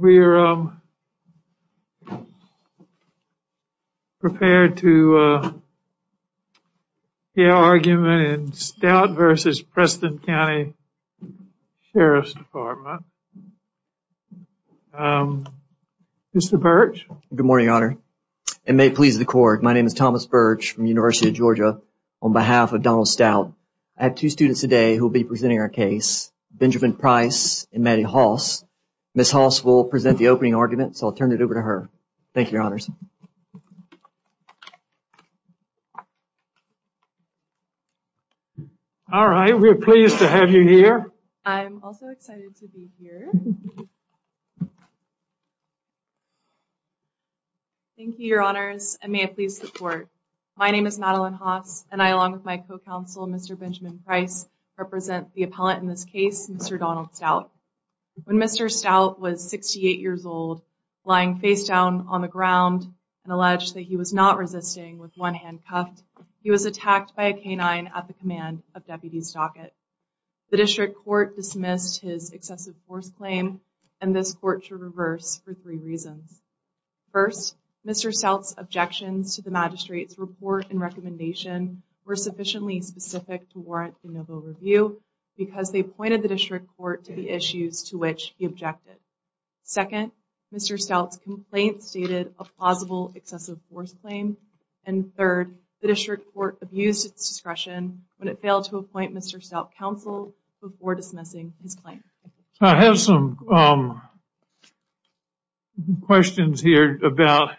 We are prepared to hear argument in Stout v. Preston County Sheriff's Department. Mr. Birch? Good morning, Your Honor. It may please the court, my name is Thomas Birch from the University of Georgia. On behalf of Donald Stout, I have two students today who will be presenting our case. Benjamin Price and Maddie Hoss. Ms. Hoss will present the opening argument, so I'll turn it over to her. Thank you, Your Honors. All right, we're pleased to have you here. I'm also excited to be here. Thank you, Your Honors, and may it please the court. My name is Madeline Hoss, and I, along with my co-counsel, Mr. Benjamin Price, represent the appellant in this case, Mr. Donald Stout. When Mr. Stout was 68 years old, lying face down on the ground and alleged that he was not resisting with one hand cuffed, he was attacked by a canine at the command of Deputy Stockett. The district court dismissed his excessive force claim and this court to reverse for three reasons. First, Mr. Stout's objections to the magistrate's report and recommendation were sufficiently specific to warrant a novel review because they pointed the district court to the issues to which he objected. Second, Mr. Stout's complaint stated a plausible excessive force claim. And third, the district court abused its discretion when it failed to appoint Mr. Stout counsel before dismissing his claim. I have some questions here about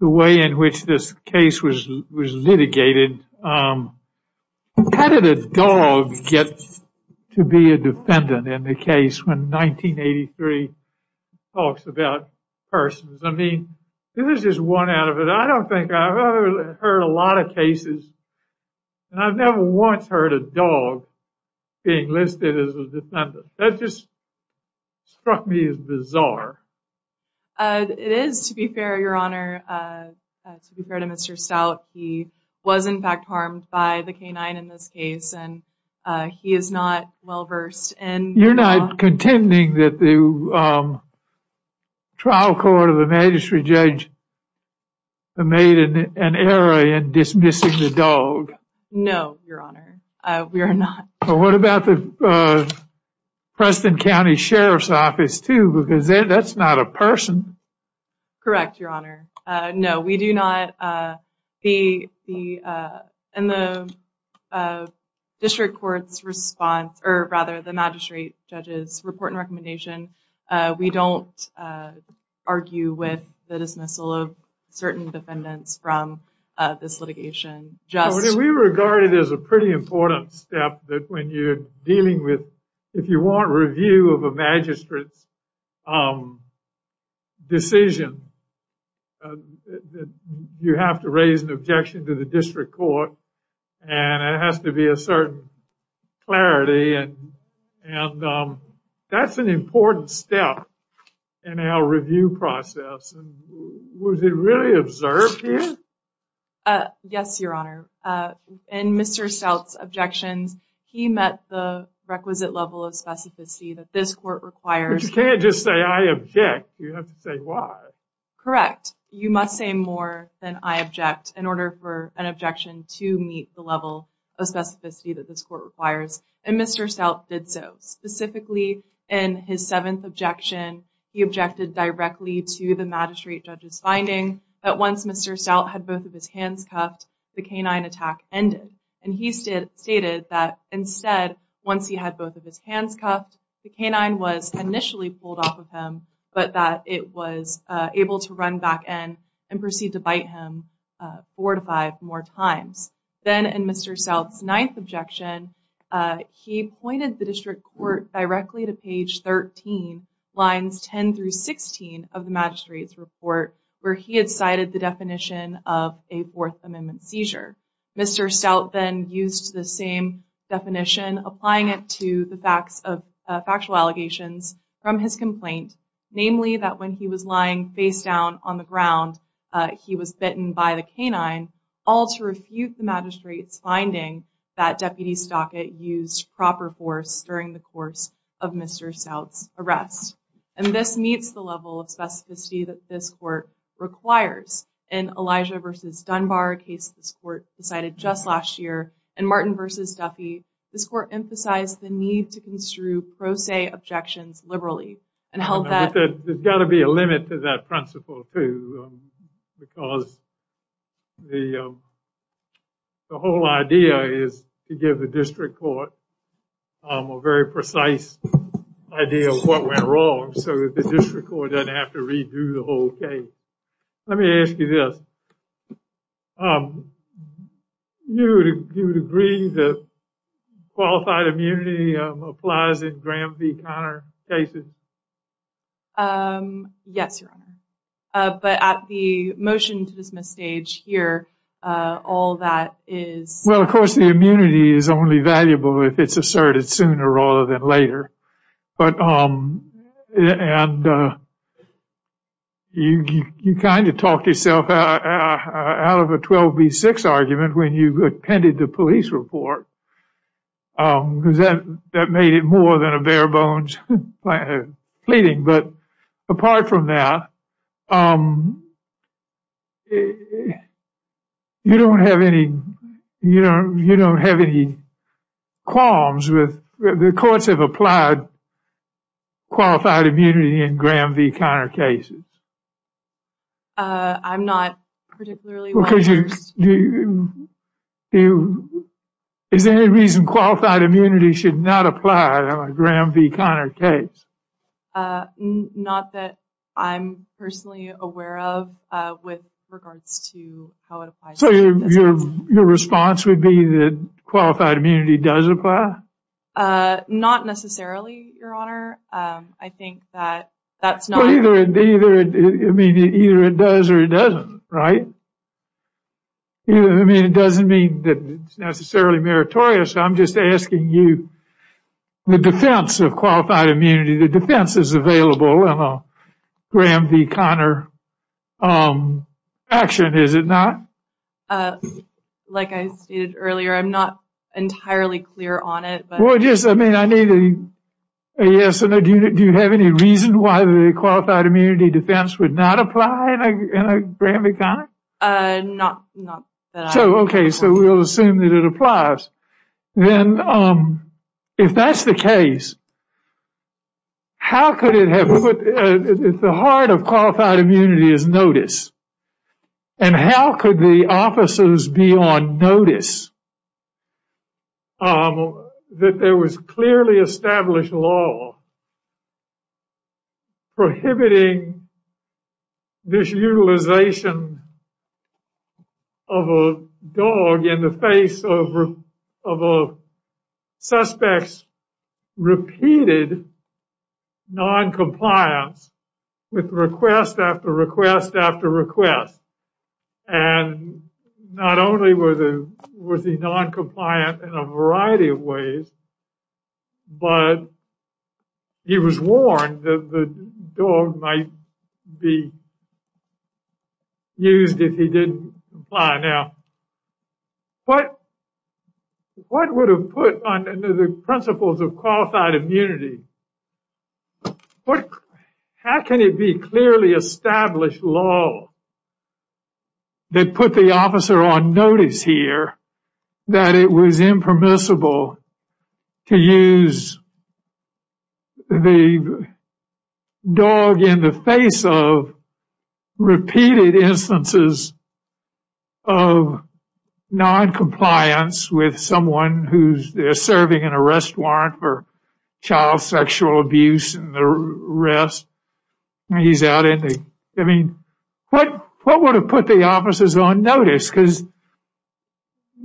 the way in which this case was litigated. How did a dog get to be a defendant in the case when 1983 talks about persons? I mean, this is just one out of it. I don't think I've ever heard a lot of cases, and I've never once heard a dog being listed as a defendant. That just struck me as bizarre. It is, to be fair, Your Honor. To be fair to Mr. Stout, he was in fact harmed by the canine in this case, and he is not well versed in the law. I'm not contending that the trial court of the magistrate judge made an error in dismissing the dog. No, Your Honor, we are not. What about the Preston County Sheriff's Office, too, because that's not a person. Correct, Your Honor. No, we do not. In the district court's response, or rather the magistrate judge's report and recommendation, we don't argue with the dismissal of certain defendants from this litigation. We regard it as a pretty important step that when you're dealing with, if you want review of a magistrate's decision, you have to raise an objection to the district court, and it has to be a certain clarity. And that's an important step in our review process. Was it really observed here? Yes, Your Honor. In Mr. Stout's objections, he met the requisite level of specificity that this court requires. But you can't just say, I object. You have to say why. Correct. You must say more than I object in order for an objection to meet the level of specificity that this court requires, and Mr. Stout did so. Specifically, in his seventh objection, he objected directly to the magistrate judge's finding that once Mr. Stout had both of his hands cuffed, the canine attack ended. And he stated that instead, once he had both of his hands cuffed, the canine was initially pulled off of him, but that it was able to run back in and proceed to bite him four to five more times. Then in Mr. Stout's ninth objection, he pointed the district court directly to page 13, lines 10 through 16 of the magistrate's report, where he had cited the definition of a Fourth Amendment seizure. Mr. Stout then used the same definition, applying it to the factual allegations from his complaint, namely that when he was lying face down on the ground, he was bitten by the canine, all to refute the magistrate's finding that Deputy Stockett used proper force during the course of Mr. Stout's arrest. And this meets the level of specificity that this court requires. In Elijah v. Dunbar, a case this court decided just last year, and Martin v. Duffy, this court emphasized the need to construe pro se objections liberally and held that- There's got to be a limit to that principle, too, because the whole idea is to give the district court a very precise idea of what went wrong so that the district court doesn't have to redo the whole case. Let me ask you this. Do you agree that qualified immunity applies in Graham v. Conner cases? Yes, Your Honor. But at the motion to dismiss stage here, all that is- Well, of course, the immunity is only valuable if it's asserted sooner rather than later. And you kind of talked yourself out of a 12 v. 6 argument when you attended the police report. That made it more than a bare-bones pleading. But apart from that, you don't have any qualms with- qualified immunity in Graham v. Conner cases? I'm not particularly- Is there any reason qualified immunity should not apply in a Graham v. Conner case? Not that I'm personally aware of with regards to how it applies. So your response would be that qualified immunity does apply? Not necessarily, Your Honor. I think that that's not- Well, either it does or it doesn't, right? I mean, it doesn't mean that it's necessarily meritorious. I'm just asking you in the defense of qualified immunity, the defense is available in a Graham v. Conner action, is it not? Like I stated earlier, I'm not entirely clear on it. Well, I mean, do you have any reason why the qualified immunity defense would not apply in a Graham v. Conner? Not that I'm- Okay, so we'll assume that it applies. Then, if that's the case, how could it have- The heart of qualified immunity is notice. And how could the officers be on notice that there was clearly established law prohibiting this utilization of a dog in the face of a suspect's repeated noncompliance with request after request after request? And not only was he noncompliant in a variety of ways, but he was warned that the dog might be used if he didn't comply. Now, what would have put on the principles of qualified immunity? How can it be clearly established law that put the officer on notice here that it was impermissible to use the dog in the face of repeated instances of noncompliance with someone who's serving an arrest warrant for child sexual abuse and the rest? He's out, isn't he? I mean, what would have put the officers on notice? Because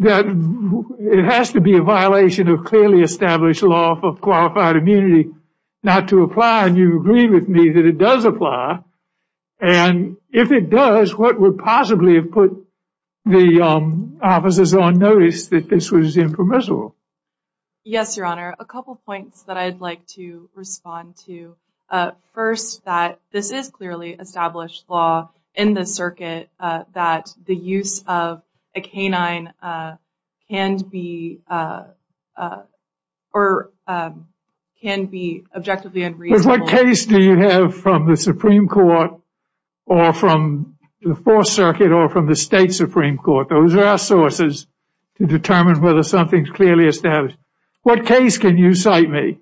it has to be a violation of clearly established law for qualified immunity not to apply. And you agree with me that it does apply. And if it does, what would possibly have put the officers on notice that this was impermissible? Yes, Your Honor. A couple of points that I'd like to respond to. First, that this is clearly established law in the circuit that the use of a canine can be objectively unreasonable. What case do you have from the Supreme Court or from the Fourth Circuit or from the state Supreme Court? Those are our sources to determine whether something's clearly established. What case can you cite me?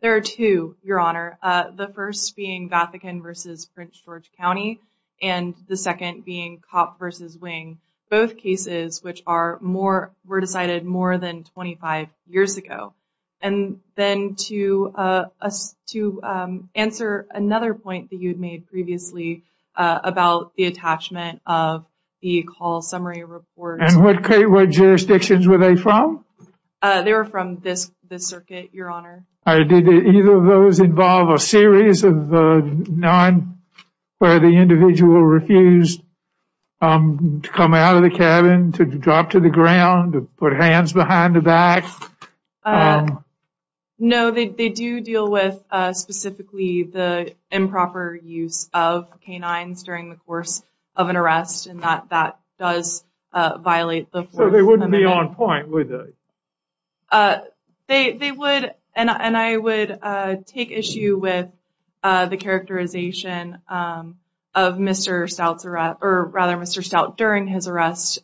There are two, Your Honor. The first being Vatican v. Prince George County and the second being Copp v. Wing, both cases which were decided more than 25 years ago. And then to answer another point that you had made previously about the attachment of the call summary report. And what jurisdictions were they from? They were from this circuit, Your Honor. Did either of those involve a series of none where the individual refused to come out of the cabin, to drop to the ground, to put hands behind the back? No, they do deal with specifically the improper use of canines during the course of an arrest. And that does violate the Fourth Amendment. They wouldn't be on point, would they? They would, and I would take issue with the characterization of Mr. Stout's arrest, or rather Mr. Stout during his arrest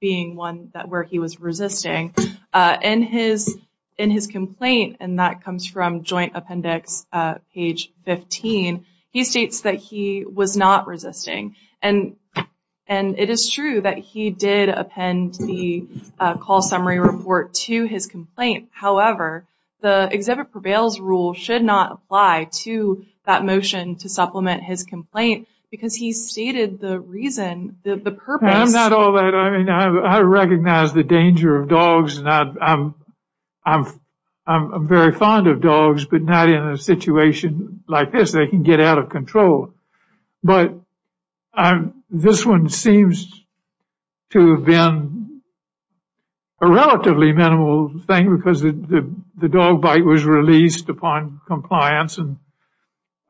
being one where he was resisting. In his complaint, and that comes from Joint Appendix page 15, he states that he was not resisting. And it is true that he did append the call summary report to his complaint. However, the Exhibit Prevails rule should not apply to that motion to supplement his complaint because he stated the reason, the purpose. I'm not all that, I mean, I recognize the danger of dogs. I'm very fond of dogs, but not in a situation like this. They can get out of control. But this one seems to have been a relatively minimal thing because the dog bite was released upon compliance and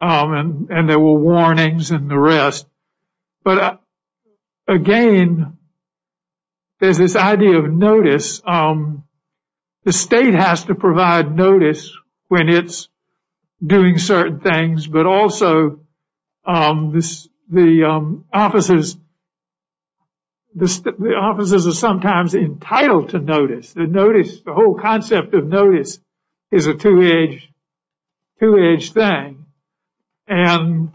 there were warnings and the rest. But again, there's this idea of notice. The state has to provide notice when it's doing certain things, but also the officers are sometimes entitled to notice. The whole concept of notice is a two-edged thing. And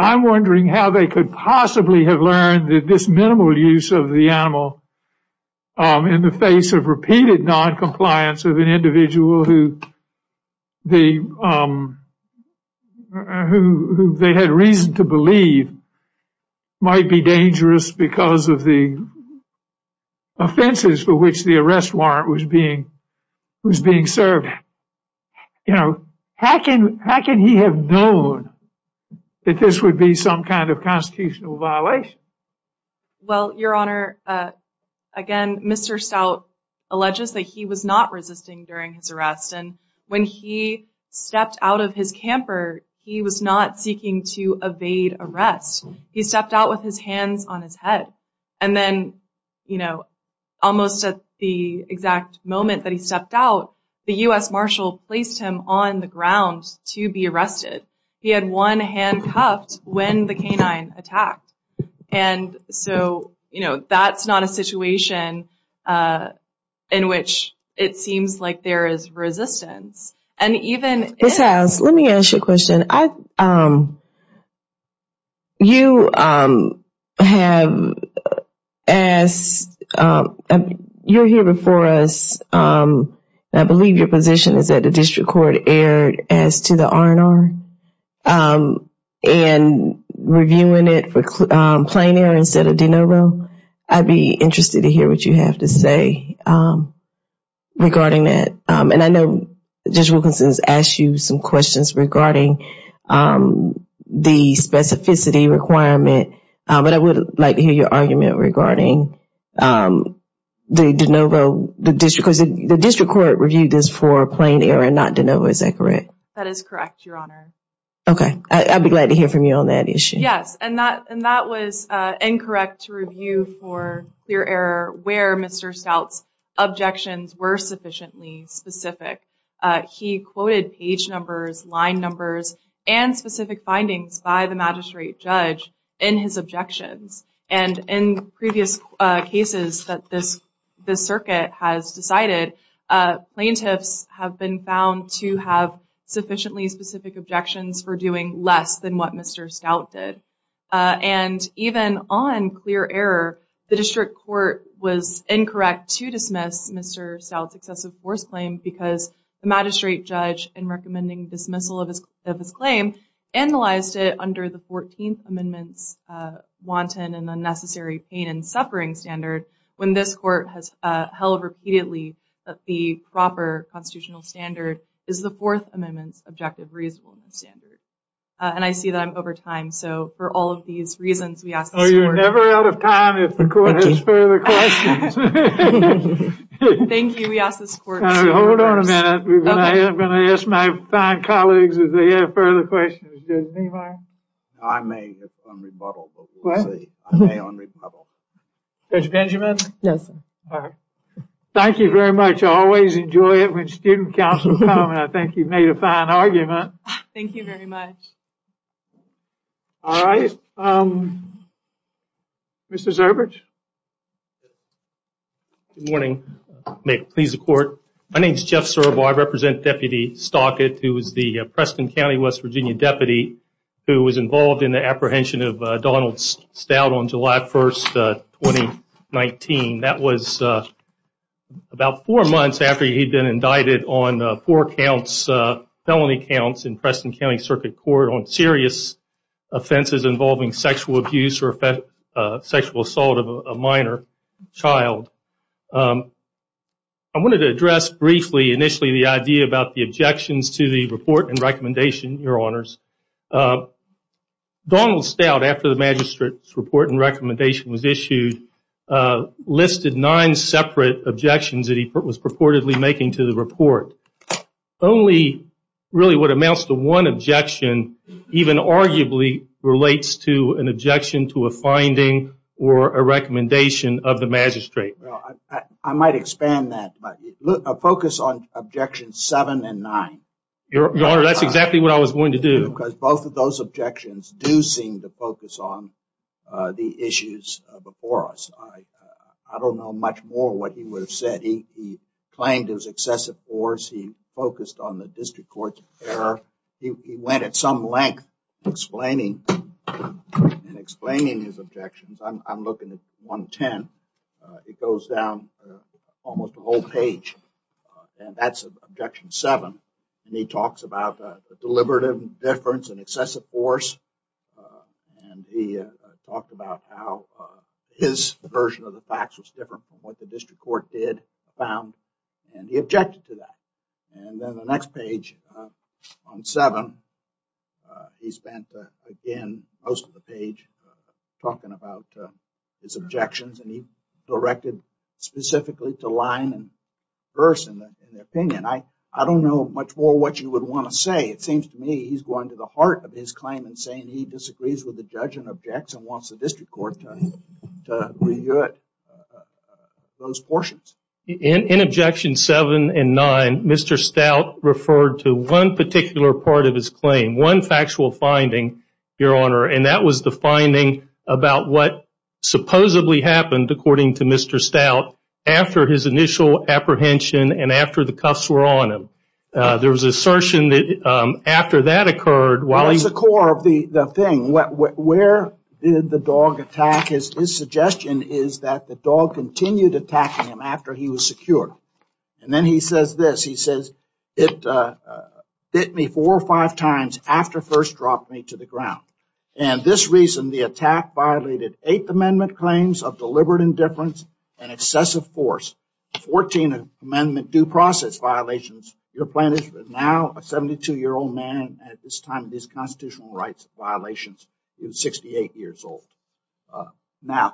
I'm wondering how they could possibly have learned that this minimal use of the animal in the face of repeated noncompliance of an individual who they had reason to believe might be dangerous because of the offenses for which the arrest warrant was being served. How can he have known that this would be some kind of constitutional violation? Well, Your Honor, again, Mr. Stout alleges that he was not resisting during his arrest and when he stepped out of his camper, he was not seeking to evade arrest. He stepped out with his hands on his head. And then almost at the exact moment that he stepped out, the U.S. Marshal placed him on the ground to be arrested. He had one hand cuffed when the canine attacked. And so that's not a situation in which it seems like there is resistance. Ms. House, let me ask you a question. You have asked, you're here before us, and I believe your position is that the district court erred as to the R&R and reviewing it for plain error instead of de novo. I'd be interested to hear what you have to say regarding that. And I know Judge Wilkinson has asked you some questions regarding the specificity requirement, but I would like to hear your argument regarding the de novo, because the district court reviewed this for plain error and not de novo. Is that correct? That is correct, Your Honor. Okay. I'd be glad to hear from you on that issue. Yes, and that was incorrect to review for clear error where Mr. Stout's objections were sufficiently specific. He quoted page numbers, line numbers, and specific findings by the magistrate judge in his objections. And in previous cases that this circuit has decided, plaintiffs have been found to have sufficiently specific objections for doing less than what Mr. Stout did. And even on clear error, the district court was incorrect to dismiss Mr. Stout's excessive force claim because the magistrate judge in recommending dismissal of his claim analyzed it under the 14th Amendment's wanton and unnecessary pain and suffering standard when this court has held repeatedly that the proper constitutional standard is the Fourth Amendment's objective reasonableness standard. And I see that I'm over time, so for all of these reasons, we ask this court... Oh, you're never out of time if the court has further questions. Thank you. Thank you. We ask this court... Hold on a minute. Okay. I'm going to ask my fine colleagues if they have further questions. Judge Niemeyer? I may have some rebuttal, but we'll see. What? I may un-rebuttal. Judge Benjamin? Yes, sir. All right. Thank you very much. I always enjoy it when student counsel come and I think you've made a fine argument. Thank you very much. All right. Mr. Zurbich? Good morning. May it please the court. My name is Jeff Zurbich. I represent Deputy Stockett, who is the Preston County, West Virginia deputy who was involved in the apprehension of Donald Stout on July 1st, 2019. That was about four months after he'd been indicted on four counts, felony counts, in Preston County Circuit Court on serious offenses involving sexual abuse or sexual assault of a minor child. I wanted to address briefly, initially, the idea about the objections to the report and recommendation, Your Honors. Donald Stout, after the magistrate's report and recommendation was issued, listed nine separate objections that he was purportedly making to the report. Only really what amounts to one objection even arguably relates to an objection to a finding or a recommendation of the magistrate. I might expand that. Focus on objections seven and nine. Your Honor, that's exactly what I was going to do. Because both of those objections do seem to focus on the issues before us. I don't know much more what he would have said. He claimed it was excessive force. He focused on the district court's error. He went at some length in explaining his objections. I'm looking at 110. It goes down almost a whole page. And that's objection seven. And he talks about a deliberative difference in excessive force. And he talked about how his version of the facts was different from what the district court did, found. And he objected to that. And then the next page, on seven, he spent, again, most of the page talking about his objections. And he directed specifically to line and verse in the opinion. I don't know much more what you would want to say. It seems to me he's going to the heart of his claim and saying he disagrees with the judge and objects and wants the district court to review those portions. In objection seven and nine, Mr. Stout referred to one particular part of his claim, one factual finding, Your Honor. And that was the finding about what supposedly happened, according to Mr. Stout, after his initial apprehension and after the cuffs were on him. There was an assertion that after that occurred, while he- That's the core of the thing. Where did the dog attack? His suggestion is that the dog continued attacking him after he was secure. And then he says this. He says, it bit me four or five times after first dropped me to the ground. And this reason, the attack violated Eighth Amendment claims of deliberate indifference and excessive force, 14th Amendment due process violations. Your plaintiff is now a 72-year-old man at this time of his constitutional rights violations. He was 68 years old. Now,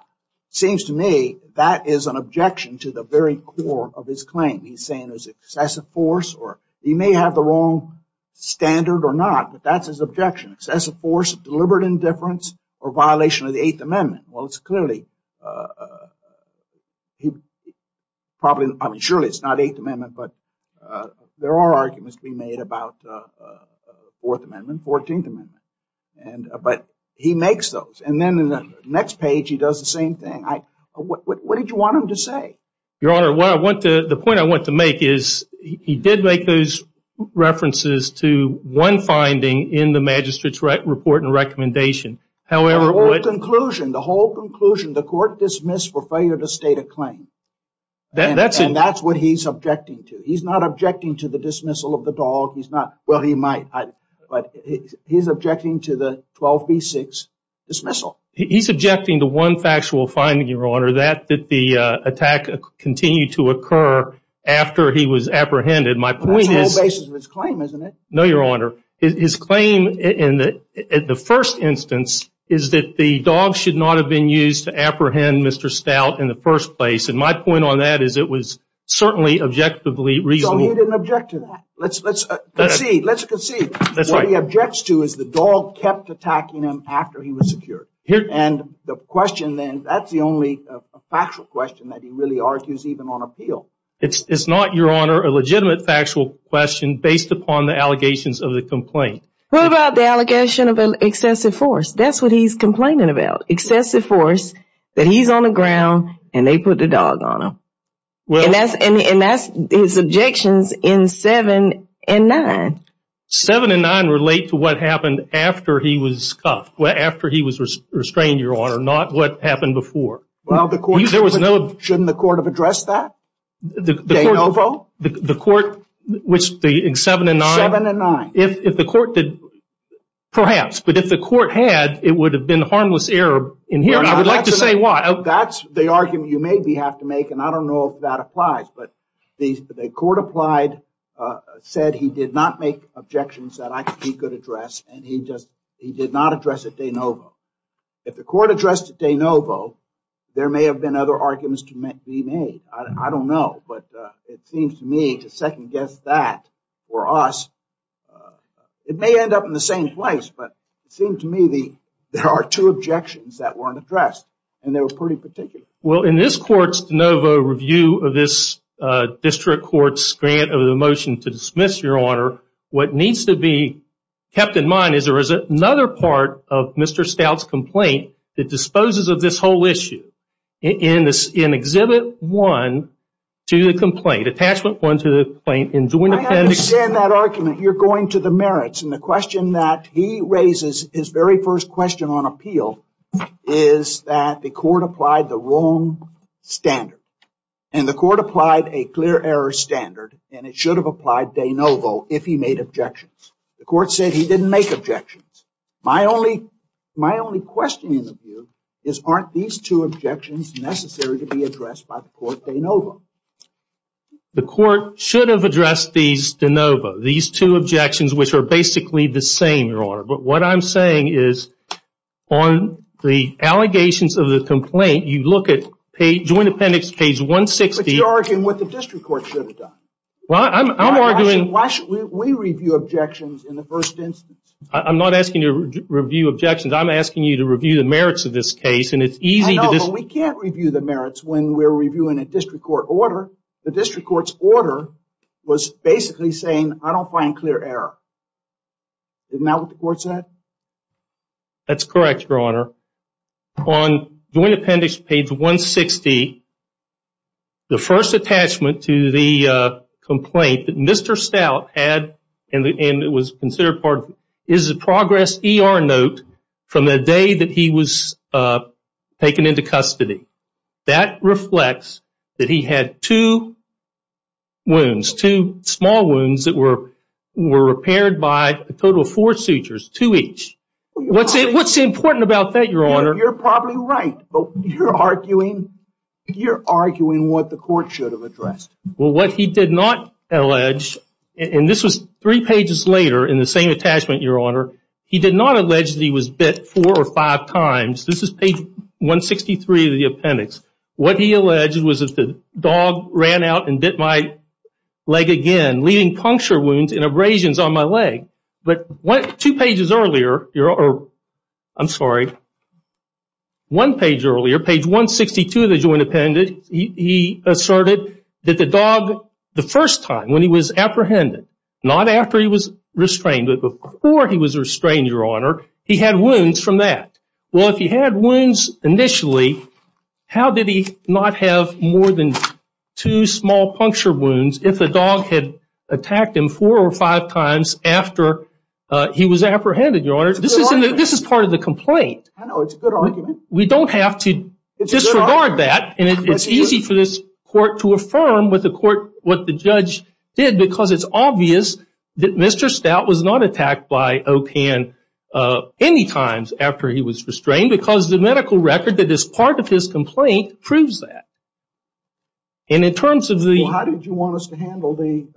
it seems to me that is an objection to the very core of his claim. He's saying it was excessive force. He may have the wrong standard or not, but that's his objection. Excessive force, deliberate indifference, or violation of the Eighth Amendment. Well, it's clearly- Surely it's not Eighth Amendment, but there are arguments being made about Fourth Amendment, 14th Amendment. But he makes those. And then in the next page, he does the same thing. What did you want him to say? Your Honor, the point I want to make is he did make those references to one finding in the magistrate's report and recommendation. However- The whole conclusion, the whole conclusion, the court dismissed for failure to state a claim. And that's what he's objecting to. He's not objecting to the dismissal of the dog. Well, he might. But he's objecting to the 12B6 dismissal. He's objecting to one factual finding, Your Honor. That the attack continued to occur after he was apprehended. My point is- That's the whole basis of his claim, isn't it? No, Your Honor. His claim in the first instance is that the dog should not have been used to apprehend Mr. Stout in the first place. And my point on that is it was certainly objectively reasonable. So he didn't object to that. Let's concede. Let's concede. What he objects to is the dog kept attacking him after he was secured. And the question then, that's the only factual question that he really argues even on appeal. It's not, Your Honor, a legitimate factual question based upon the allegations of the complaint. What about the allegation of excessive force? That's what he's complaining about. Excessive force that he's on the ground and they put the dog on him. And that's his objections in 7 and 9. 7 and 9 relate to what happened after he was cuffed. After he was restrained, Your Honor. Not what happened before. Well, the court- There was no- Shouldn't the court have addressed that? The court- In 7 and 9? 7 and 9. If the court did, perhaps. But if the court had, it would have been harmless error in hearing. I would like to say why. That's the argument you maybe have to make. And I don't know if that applies. But the court applied, said he did not make objections that he could address. And he did not address it de novo. If the court addressed it de novo, there may have been other arguments to be made. I don't know. But it seems to me, to second-guess that for us, it may end up in the same place. But it seems to me there are two objections that weren't addressed. And they were pretty particular. Well, in this court's de novo review of this district court's grant of the motion to dismiss, Your Honor, what needs to be kept in mind is there is another part of Mr. Stout's complaint that disposes of this whole issue. In Exhibit 1 to the complaint, Attachment 1 to the complaint in joint appendix- I understand that argument. You're going to the merits. And the question that he raises, his very first question on appeal, is that the court applied the wrong standard. And the court applied a clear error standard. And it should have applied de novo if he made objections. The court said he didn't make objections. My only question in the view is aren't these two objections necessary to be addressed by the court de novo? The court should have addressed these de novo. These two objections, which are basically the same, Your Honor. But what I'm saying is on the allegations of the complaint, you look at joint appendix page 160- But you're arguing what the district court should have done. Well, I'm arguing- Why should we review objections in the first instance? I'm not asking you to review objections. I'm asking you to review the merits of this case. And it's easy to- I know, but we can't review the merits when we're reviewing a district court order. The district court's order was basically saying I don't find clear error. Isn't that what the court said? That's correct, Your Honor. On joint appendix page 160, the first attachment to the complaint that Mr. Stout had- And it was considered part- Is a progress ER note from the day that he was taken into custody. That reflects that he had two wounds. Two small wounds that were repaired by a total of four sutures. Two each. What's important about that, Your Honor? You're probably right. But you're arguing what the court should have addressed. Well, what he did not allege, and this was three pages later in the same attachment, Your Honor. He did not allege that he was bit four or five times. This is page 163 of the appendix. What he alleged was that the dog ran out and bit my leg again, leaving puncture wounds and abrasions on my leg. But two pages earlier- I'm sorry. One page earlier, page 162 of the joint appendix, he asserted that the dog the first time when he was apprehended, not after he was restrained but before he was restrained, Your Honor, he had wounds from that. Well, if he had wounds initially, how did he not have more than two small puncture wounds if the dog had attacked him four or five times after he was apprehended, Your Honor? This is part of the complaint. I know. It's a good argument. We don't have to disregard that, and it's easy for this court to affirm with the court what the judge did because it's obvious that Mr. Stout was not attacked by O'Kan any times after he was restrained because the medical record that is part of his complaint proves that. And in terms of the- Well, how did you want us to handle the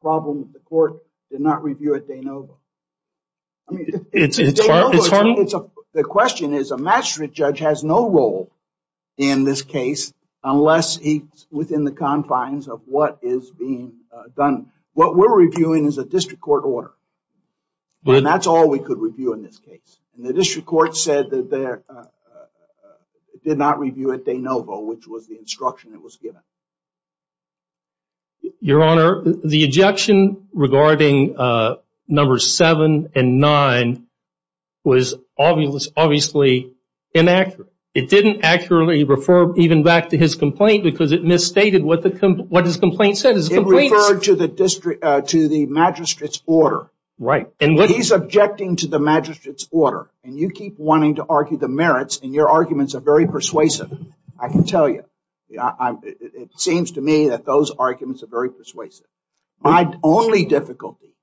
problem that the court did not review at De Novo? It's funny. The question is a magistrate judge has no role in this case unless he's within the confines of what is being done. What we're reviewing is a district court order, and that's all we could review in this case. And the district court said that they did not review at De Novo, which was the instruction that was given. Your Honor, the objection regarding numbers seven and nine was obviously inaccurate. It didn't accurately refer even back to his complaint because it misstated what his complaint said. It referred to the magistrate's order. Right. He's objecting to the magistrate's order, and you keep wanting to argue the merits, and your arguments are very persuasive, I can tell you. It seems to me that those arguments are very persuasive. My only difficulty,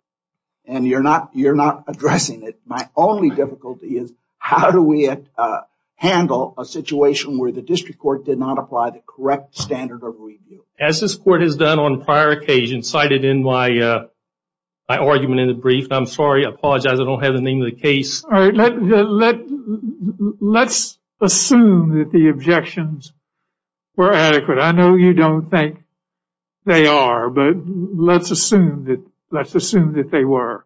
and you're not addressing it, my only difficulty is how do we handle a situation where the district court did not apply the correct standard of review? As this court has done on prior occasions, cited in my argument in the brief, and I'm sorry, I apologize, I don't have the name of the case. Let's assume that the objections were adequate. I know you don't think they are, but let's assume that they were.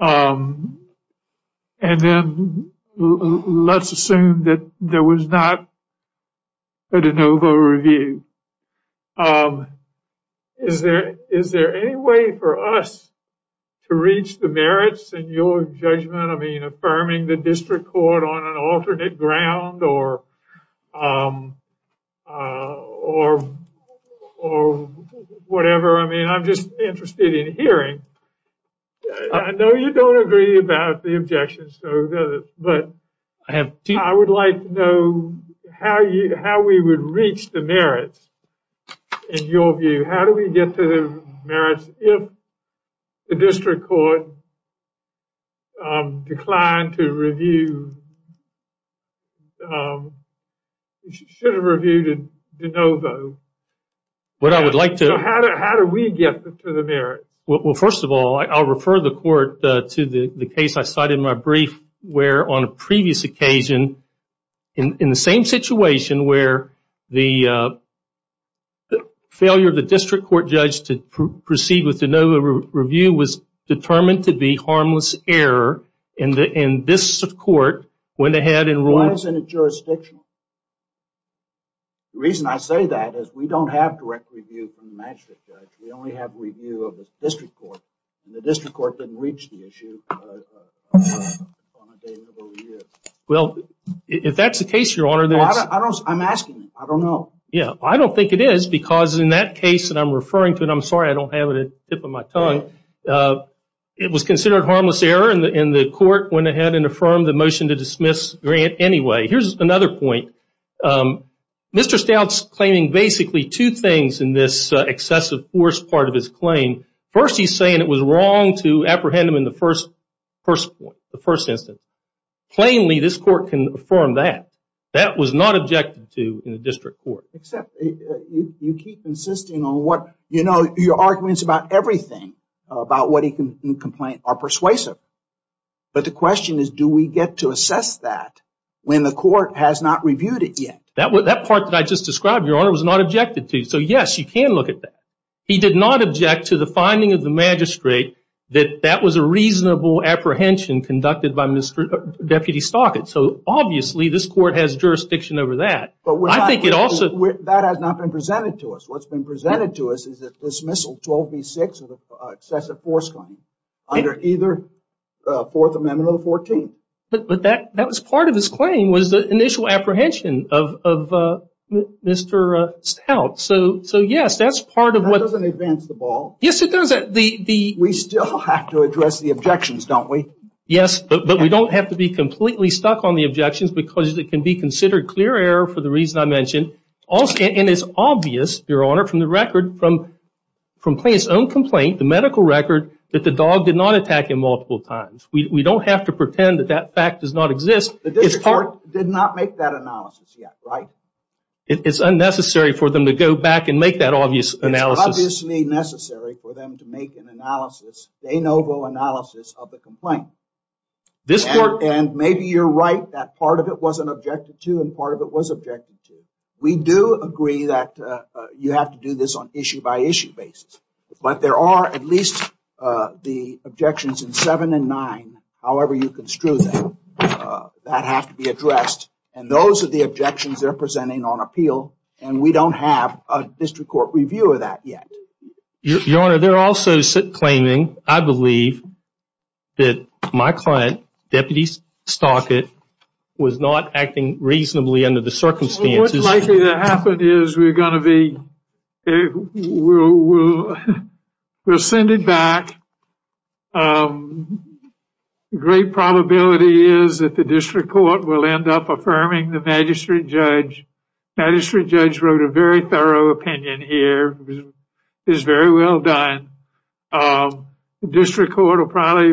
And then let's assume that there was not a de novo review. Is there any way for us to reach the merits in your judgment? I mean, affirming the district court on an alternate ground or whatever? I mean, I'm just interested in hearing. I know you don't agree about the objections, but I would like to know how we would reach the merits in your view. How do we get to the merits if the district court declined to review, should have reviewed a de novo? What I would like to... How do we get to the merits? Well, first of all, I'll refer the court to the case I cited in my brief, where on a previous occasion in the same situation where the failure of the district court judge to proceed with de novo review was determined to be harmless error, and this court went ahead and ruled... Why isn't it jurisdictional? The reason I say that is we don't have direct review from the magistrate judge. We only have review of the district court, and the district court didn't reach the issue on a de novo review. Well, if that's the case, Your Honor, then it's... I'm asking. I don't know. Yeah, I don't think it is because in that case that I'm referring to, and I'm sorry I don't have it at the tip of my tongue, it was considered harmless error, and the court went ahead and affirmed the motion to dismiss Grant anyway. Here's another point. Mr. Stout's claiming basically two things in this excessive force part of his claim. First, he's saying it was wrong to apprehend him in the first instance. Plainly, this court can affirm that. That was not objected to in the district court. Except you keep insisting on what... You know, your arguments about everything, about what he can complain, are persuasive. But the question is, do we get to assess that when the court has not reviewed it yet? That part that I just described, Your Honor, was not objected to. So, yes, you can look at that. He did not object to the finding of the magistrate that that was a reasonable apprehension conducted by Deputy Stockett. So, obviously, this court has jurisdiction over that. I think it also... That has not been presented to us. What's been presented to us is that dismissal 12B6 of the excessive force claim under either Fourth Amendment or the 14th. But that was part of his claim was the initial apprehension of Mr. Stout. So, yes, that's part of what... That doesn't advance the ball. Yes, it does. We still have to address the objections, don't we? Yes, but we don't have to be completely stuck on the objections because it can be considered clear error for the reason I mentioned. And it's obvious, Your Honor, from the record, from Clay's own complaint, the medical record, that the dog did not attack him multiple times. We don't have to pretend that that fact does not exist. The district court did not make that analysis yet, right? It's unnecessary for them to go back and make that obvious analysis. It's obviously necessary for them to make an analysis, de novo analysis of the complaint. This court... And maybe you're right that part of it wasn't objected to and part of it was objected to. We do agree that you have to do this on issue-by-issue basis. But there are at least the objections in 7 and 9, however you construe them, that have to be addressed. And those are the objections they're presenting on appeal. And we don't have a district court review of that yet. Your Honor, they're also claiming, I believe, that my client, Deputy Stockett, was not acting reasonably under the circumstances. What's likely to happen is we're going to be... We'll send it back. The great probability is that the district court will end up affirming the magistrate judge. The magistrate judge wrote a very thorough opinion here. It was very well done. District court will probably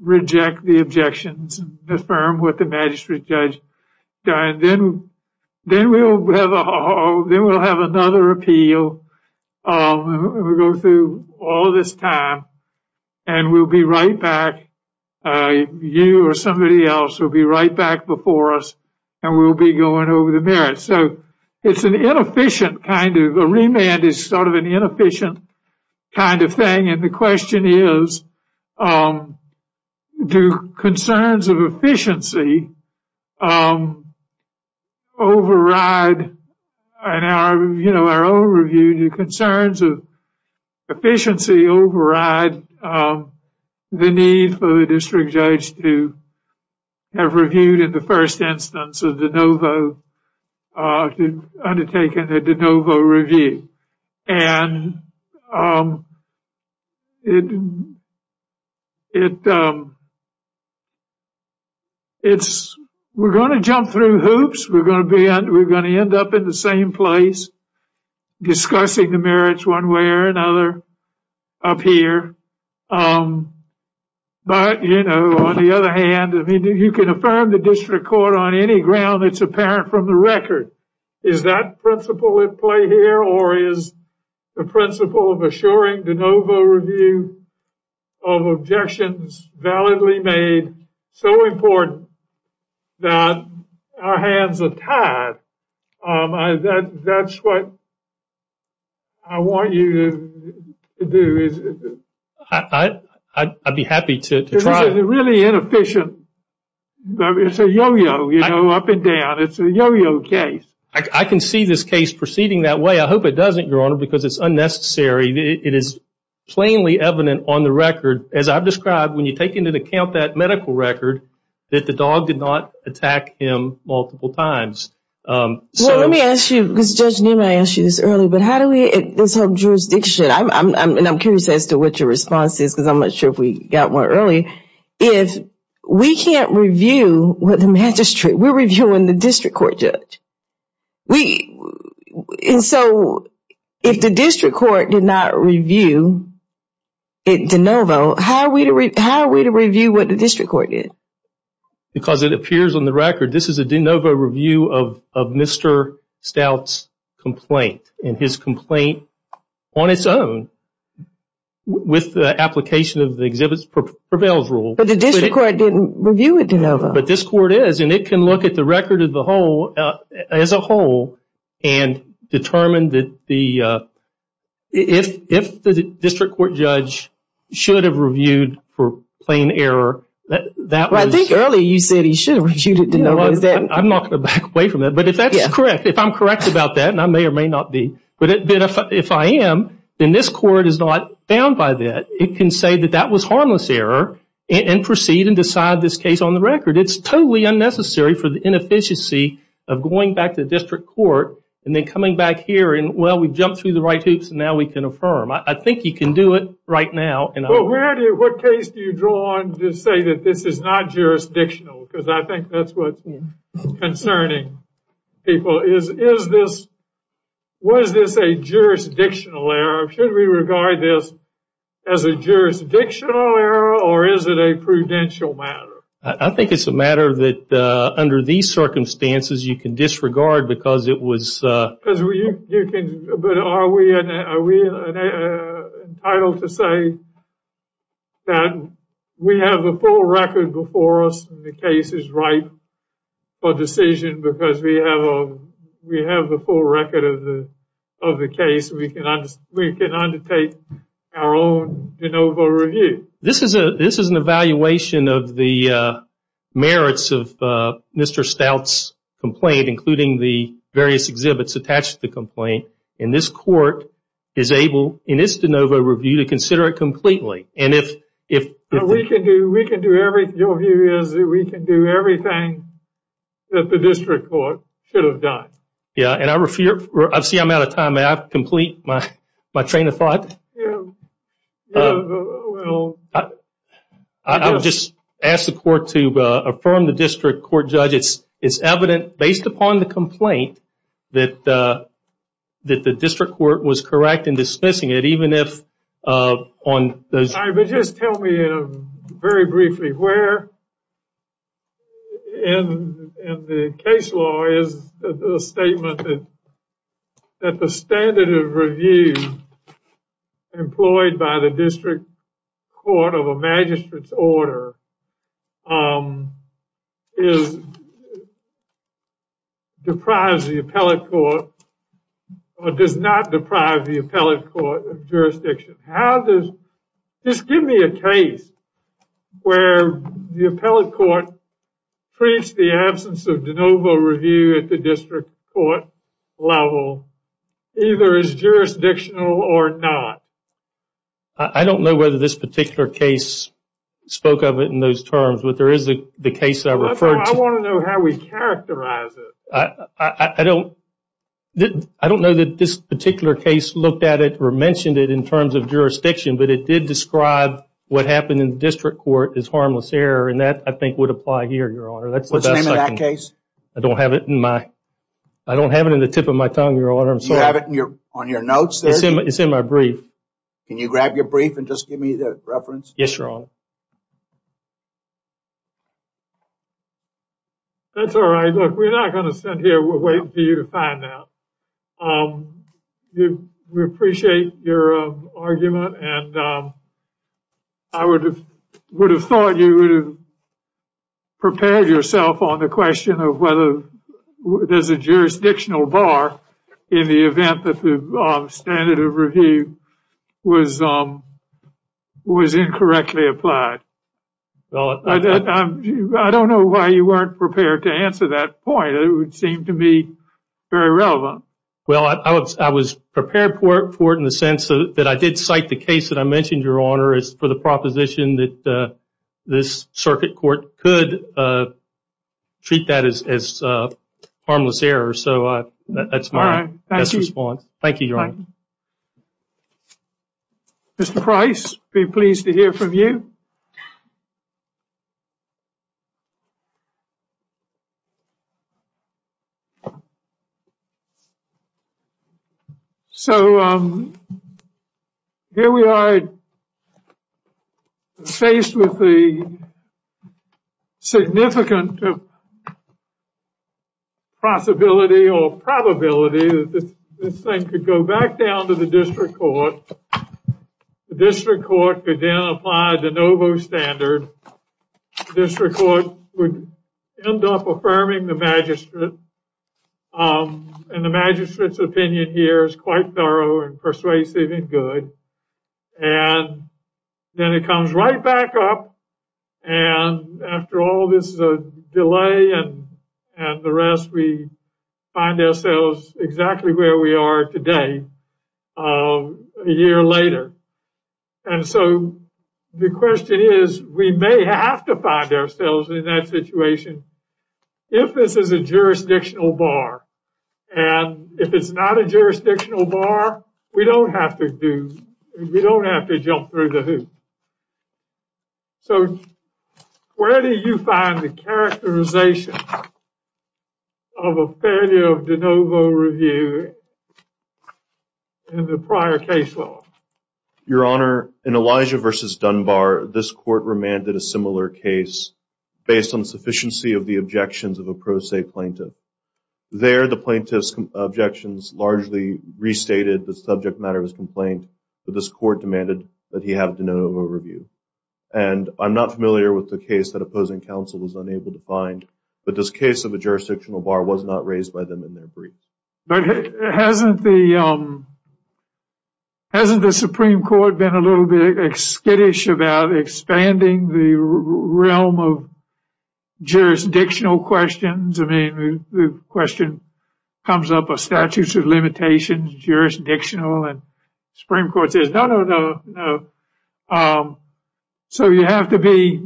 reject the objections, affirm what the magistrate judge done. Then we'll have another appeal. We'll go through all this time and we'll be right back. You or somebody else will be right back before us and we'll be going over the merits. So it's an inefficient kind of... It's sort of an inefficient kind of thing. And the question is, do concerns of efficiency override... In our own review, do concerns of efficiency override the need for the district judge to have reviewed in the first instance a de novo... Undertaken a de novo review. And it... It's... We're going to jump through hoops. We're going to end up in the same place discussing the merits one way or another up here. But, you know, on the other hand, you can affirm the district court on any ground that's apparent from the record. Is that principle at play here or is the principle of assuring de novo review of objections validly made so important that our hands are tied? That's what I want you to do. I'd be happy to try. It's really inefficient. It's a yo-yo, you know, up and down. It's a yo-yo case. I can see this case proceeding that way. I hope it doesn't, Your Honor, because it's unnecessary. It is plainly evident on the record, as I've described, when you take into account that medical record, that the dog did not attack him multiple times. Well, let me ask you, because Judge Newman, I asked you this earlier, but how do we... This whole jurisdiction, and I'm curious as to what your response is because I'm not sure if we got one earlier, is we can't review what the magistrate... We're reviewing the district court judge. We... And so if the district court did not review de novo, how are we to review what the district court did? Because it appears on the record this is a de novo review of Mr. Stout's complaint and his complaint on its own with the application of the exhibits prevails rule. But the district court didn't review it de novo. But this court is, and it can look at the record as a whole and determine that the... If the district court judge should have reviewed for plain error, that was... Well, I think earlier you said he should have reviewed it de novo. I'm not going to back away from that, but if that's correct, if I'm correct about that, and I may or may not be, but if I am, then this court is not bound by that. It can say that that was harmless error and proceed and decide this case on the record. It's totally unnecessary for the inefficiency of going back to the district court and then coming back here and, well, we jumped through the right hoops and now we can affirm. I think you can do it right now. Well, where do you... What case do you draw on to say that this is not jurisdictional? Because I think that's what's concerning people. Is this... Was this a jurisdictional error? Should we regard this as a jurisdictional error or is it a prudential matter? I think it's a matter that under these circumstances you can disregard because it was... Because you can... But are we entitled to say that we have the full record before us and the case is ripe for decision because we have the full record of the case, we can undertake our own de novo review? This is an evaluation of the merits of Mr. Stout's complaint, including the various exhibits attached to the complaint, and this court is able, in its de novo review, to consider it completely. And if... We can do everything. Your view is that we can do everything that the district court should have done. Yeah, and I refer... I see I'm out of time. May I complete my train of thought? Yeah. Well... I'll just ask the court to affirm the district court judge. It's evident, based upon the complaint, that the district court was correct in dismissing it, even if on those... All right, but just tell me very briefly where in the case law is the statement that the standard of review employed by the district court of a magistrate's order is... deprives the appellate court, or does not deprive the appellate court of jurisdiction? How does... Just give me a case where the appellate court treats the absence of de novo review at the district court level either as jurisdictional or not. I don't know whether this particular case spoke of it in those terms, but there is the case I referred to... I want to know how we characterize it. I don't... I don't know that this particular case looked at it or mentioned it in terms of jurisdiction, but it did describe what happened in the district court as harmless error, and that, I think, would apply here, Your Honor. What's the name of that case? I don't have it in my... I don't have it in the tip of my tongue, Your Honor. You have it on your notes there? It's in my brief. Can you grab your brief and just give me the reference? Yes, Your Honor. That's all right. Look, we're not going to sit here waiting for you to find out. We appreciate your argument, and I would have thought you would have prepared yourself on the question of whether there's a jurisdictional bar in the event that the standard of review was incorrectly applied. I don't know why you weren't prepared to answer that point. It would seem to be very relevant. Well, I was prepared for it in the sense that I did cite the case that I mentioned, Your Honor, as for the proposition that this circuit court could treat that as harmless error, so that's my best response. Thank you, Your Honor. Mr. Price, be pleased to hear from you. So here we are faced with the significant possibility or probability that this thing could go back down to the district court. The district court could then apply the novo standard. The district court would end up affirming the magistrate, and the magistrate's opinion here is quite thorough and persuasive and good. And then it comes right back up, and after all this delay and the rest, we find ourselves exactly where we are today, a year later. And so the question is, we may have to find ourselves in that situation if this is a jurisdictional bar. And if it's not a jurisdictional bar, we don't have to jump through the hoop. So where do you find the characterization of a failure of de novo review in the prior case law? Your Honor, in Elijah v. Dunbar, this court remanded a similar case based on sufficiency of the objections of a pro se plaintiff. There, the plaintiff's objections largely restated the subject matter of his complaint, but this court demanded that he have de novo review. And I'm not familiar with the case that opposing counsel was unable to find, but this case of a jurisdictional bar was not raised by them in their brief. But hasn't the Supreme Court been a little bit skittish about expanding the realm of jurisdictional questions? I mean, the question comes up of statutes of limitations, jurisdictional, and the Supreme Court says, no, no, no. So you have to be,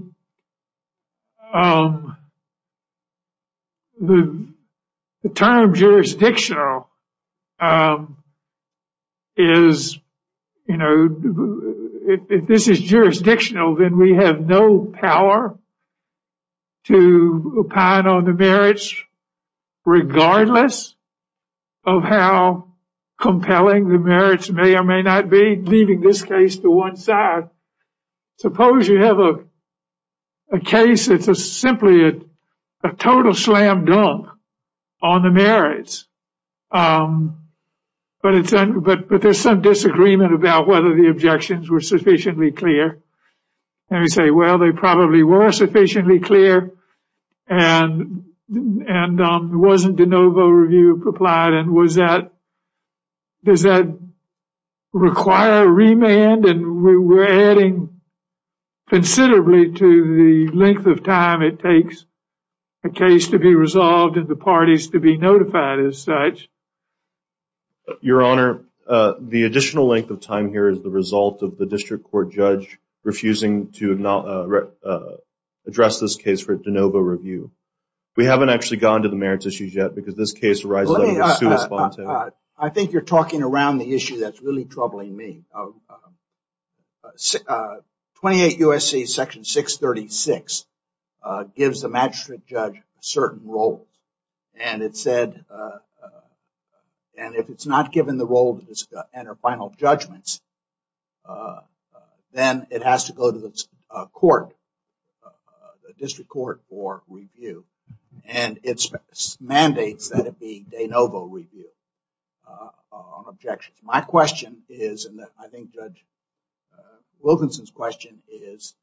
the term jurisdictional is, you know, if this is jurisdictional, then we have no power to opine on the merits regardless of how compelling the merits may or may not be, leaving this case to one side. Suppose you have a case that's simply a total slam dunk on the merits, but there's some disagreement about whether the objections were sufficiently clear. And we say, well, they probably were sufficiently clear and there wasn't de novo review applied. And was that, does that require a remand? And we're adding considerably to the length of time it takes a case to be resolved and the parties to be notified as such. Your Honor, the additional length of time here is the result of the district court judge refusing to address this case for de novo review. We haven't actually gone to the merits issues yet because this case arises out of a suit of spontaneity. I think you're talking around the issue that's really troubling me. 28 U.S.C. Section 636 gives the magistrate judge a certain role. And it said, and if it's not given the role to enter final judgments, then it has to go to the court, the district court for review. And it mandates that it be de novo review on objections. My question is, and I think Judge Wilkinson's question is,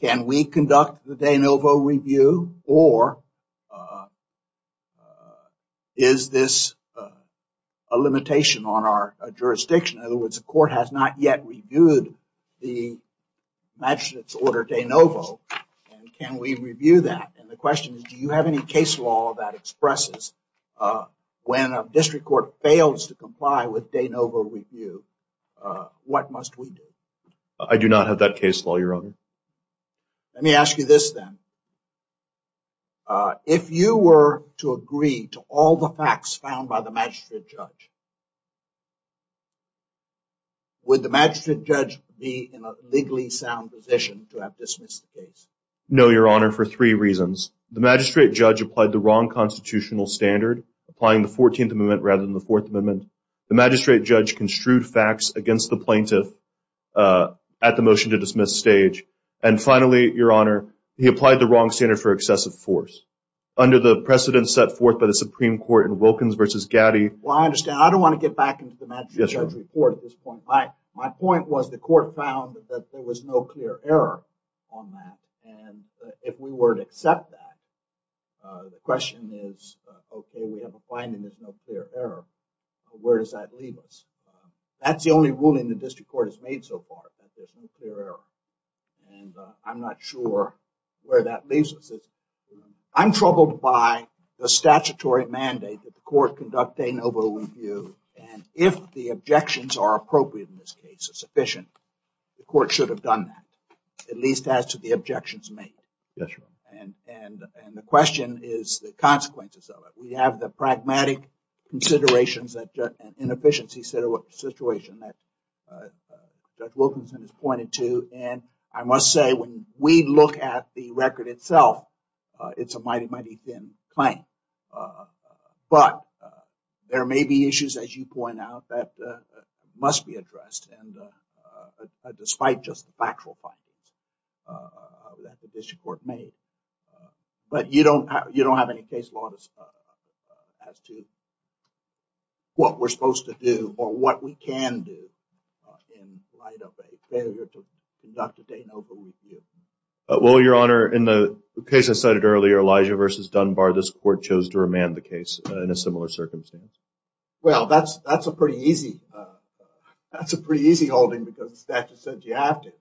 can we conduct the de novo review or is this a limitation on our jurisdiction? In other words, the court has not yet reviewed the magistrate's order de novo and can we review that? And the question is, do you have any case law that expresses when a district court fails to comply with de novo review, what must we do? I do not have that case law, Your Honor. Let me ask you this then. If you were to agree to all the facts found by the magistrate judge, would the magistrate judge be in a legally sound position to have dismissed the case? No, Your Honor, for three reasons. The magistrate judge applied the wrong constitutional standard, applying the 14th Amendment rather than the 4th Amendment. The magistrate judge construed facts against the plaintiff at the motion-to-dismiss stage. And finally, Your Honor, he applied the wrong standard for excessive force under the precedent set forth by the Supreme Court in Wilkins v. Gaddy. Well, I understand. I don't want to get back into the magistrate judge's report at this point. My point was the court found that there was no clear error on that. And if we were to accept that, the question is, OK, we have a finding there's no clear error. Where does that leave us? That's the only ruling the district court has made so far, that there's no clear error. And I'm not sure where that leaves us. I'm troubled by the statutory mandate that the court conducts a noble review. And if the objections are appropriate in this case, sufficient, the court should have done that, at least as to the objections made. Yes, Your Honor. And the question is the consequences of it. We have the pragmatic considerations and inefficiency situation that Judge Wilkinson has pointed to. And I must say, when we look at the record itself, it's a mighty, mighty thin claim. But there may be issues, as you point out, that must be addressed, despite just the factual findings that the district court made. But you don't have any case law as to what we're supposed to do or what we can do in light of a failure to conduct a noble review. Well, Your Honor, in the case I cited earlier, Elijah v. Dunbar, this court chose to remand the case in a similar circumstance. Well, that's a pretty easy holding because the statute said you have to.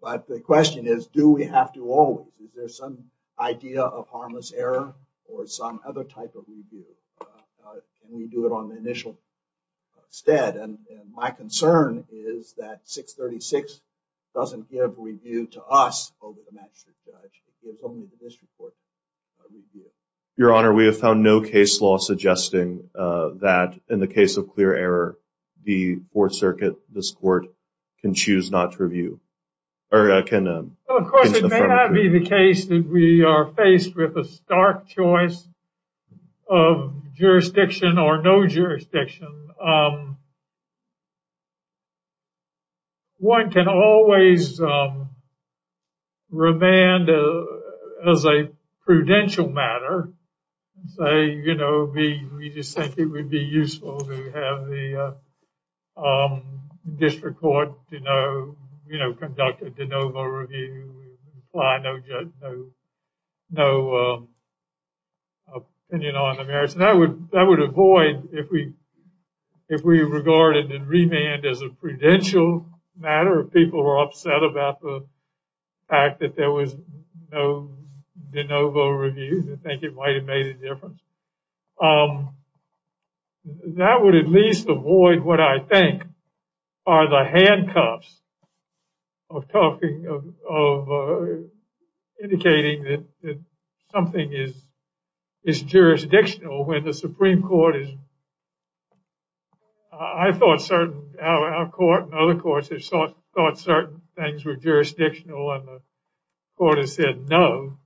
But the question is, do we have to always? Is there some idea of harmless error or some other type of review? Can we do it on the initial stead? And my concern is that 636 doesn't give review to us over the magistrate judge. It gives only the district court a review. Your Honor, we have found no case law suggesting that, in the case of clear error, the Fourth Circuit, this court, can choose not to review. Well, of course, it may not be the case that we are faced with a stark choice of jurisdiction or no jurisdiction. One can always remand as a prudential matter and say, you know, we just think it would be useful to have the district court, you know, conduct a de novo review and apply no opinion on the merits. That would avoid, if we regarded and remanded as a prudential matter, if people were upset about the fact that there was no de novo review, they think it might have made a difference. That would at least avoid what I think are the handcuffs of talking, of indicating that something is jurisdictional when the Supreme Court is, I thought certain, our court and other courts have thought certain things were jurisdictional and the court has said no.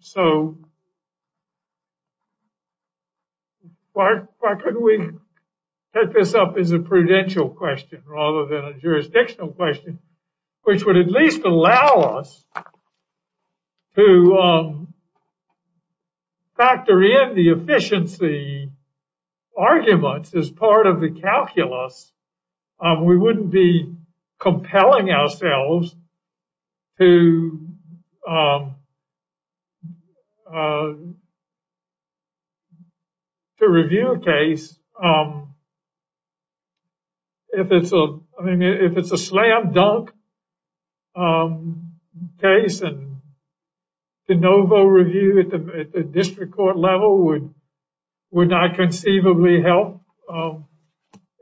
So why couldn't we set this up as a prudential question rather than a jurisdictional question, which would at least allow us to factor in the efficiency arguments as part of the calculus. We wouldn't be compelling ourselves to review a case if it's a slam dunk case and de novo review at the district court level would not conceivably help.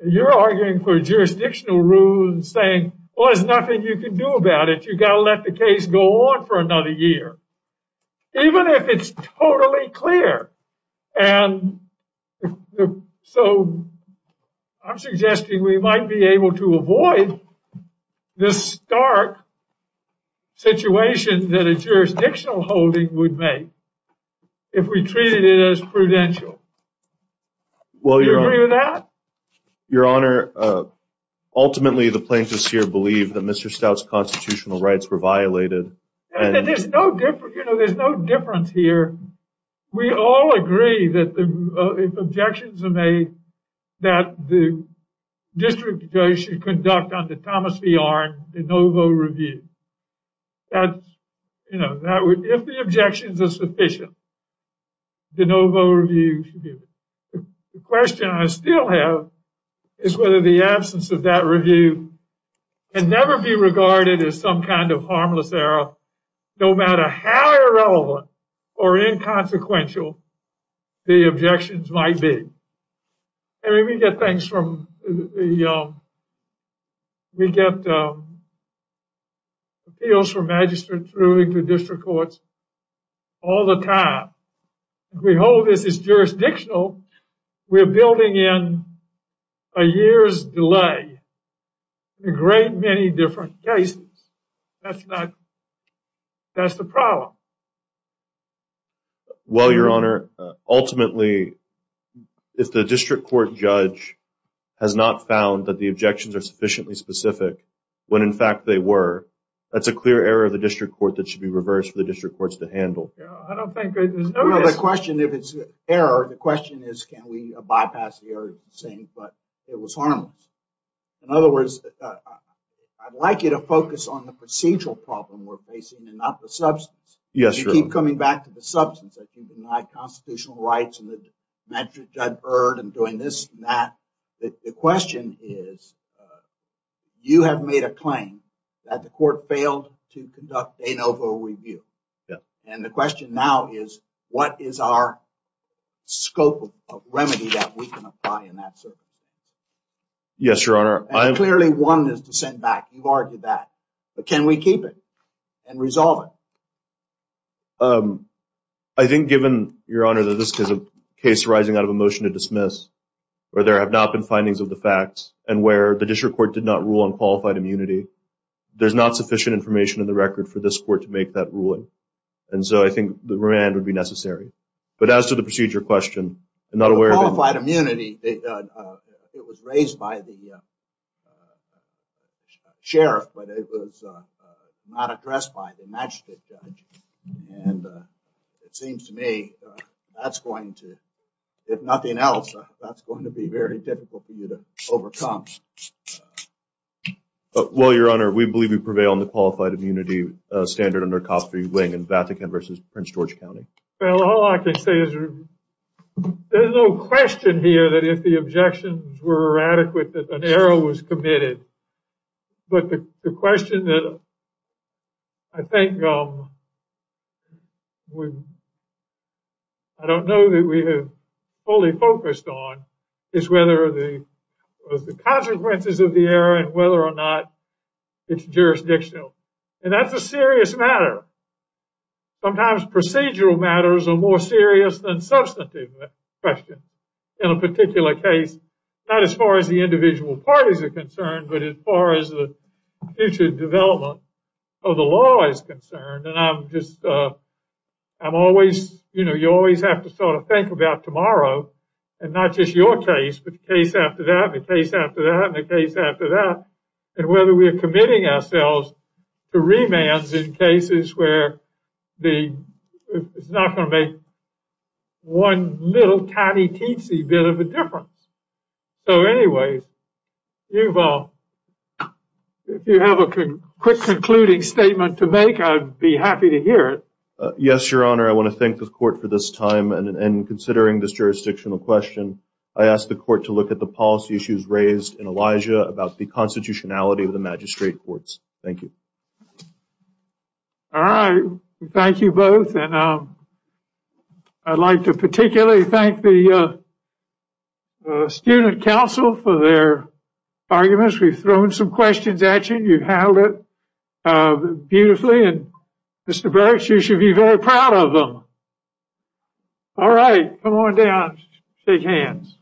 You're arguing for jurisdictional rules and saying, well, there's nothing you can do about it. You got to let the case go on for another year, even if it's totally clear. And so I'm suggesting we might be able to avoid this stark situation that a jurisdictional holding would make if we treated it as prudential. Do you agree with that? Your Honor, ultimately, the plaintiffs here believe that Mr. Stout's constitutional rights were violated. There's no difference here. We all agree that if objections are made that the district judge should conduct under Thomas V. Arnn de novo review. That, you know, if the objections are sufficient, de novo review. The question I still have is whether the absence of that review can never be regarded as some kind of harmless error, no matter how irrelevant or inconsequential the objections might be. I mean, we get things from the, we get appeals from magistrates moving to district courts all the time. If we hold this as jurisdictional, we're building in a year's delay in a great many different cases. That's not, that's the problem. Well, Your Honor, ultimately, if the district court judge has not found that the objections are sufficiently specific, when in fact they were, that's a clear error of the district court that should be reversed for the district courts to handle. I don't think there's no question if it's error. The question is, can we bypass the error saying, but it was harmless. In other words, I'd like you to focus on the procedural problem we're facing and not the substance. Yes, Your Honor. You keep coming back to the substance. I keep denying constitutional rights and the metrics I've heard and doing this and that. The question is, you have made a claim that the court failed to conduct a NOVO review. And the question now is, what is our scope of remedy that we can apply in that circumstance? Yes, Your Honor. Clearly one is to send back. You've argued that. But can we keep it and resolve it? I think given, Your Honor, that this is a case arising out of a motion to dismiss where there have not been findings of the facts and where the district court did not rule on qualified immunity. There's not sufficient information in the record for this court to make that ruling. And so I think the remand would be necessary. But as to the procedure question, I'm not aware of it. Qualified immunity. It was raised by the sheriff, but it was not addressed by the magistrate. And it seems to me that's going to, if nothing else, that's going to be very difficult for you to overcome. Well, Your Honor, we believe we prevail on the qualified immunity standard under coffee wing and Vatican versus Prince George County. Well, all I can say is there's no question here that if the objections were adequate, that an error was committed. But the question that I think, I don't know that we have fully focused on is whether the consequences of the error and whether or not it's jurisdictional. And that's a serious matter. Sometimes procedural matters are more serious than substantive questions. In a particular case, not as far as the individual parties are concerned, but as far as the future development of the law is concerned. And I'm just, I'm always, you know, you always have to sort of think about tomorrow and not just your case, but the case after that, the case after that, and the case after that, and whether we are committing ourselves to remands in cases where the, it's not going to make one little tiny teensy bit of a difference. So anyways, you've all, if you have a quick concluding statement to make, I'd be happy to hear it. Yes, your honor. I want to thank the court for this time and considering this jurisdictional question, I asked the court to look at the policy issues raised in Elijah about the constitutionality of the magistrate courts. Thank you. All right. Thank you both. And I'd like to particularly thank the student council for their arguments. We've thrown some questions at you. You've handled it beautifully. And Mr. Burks, you should be very proud of them. All right. Come on down. Shake hands.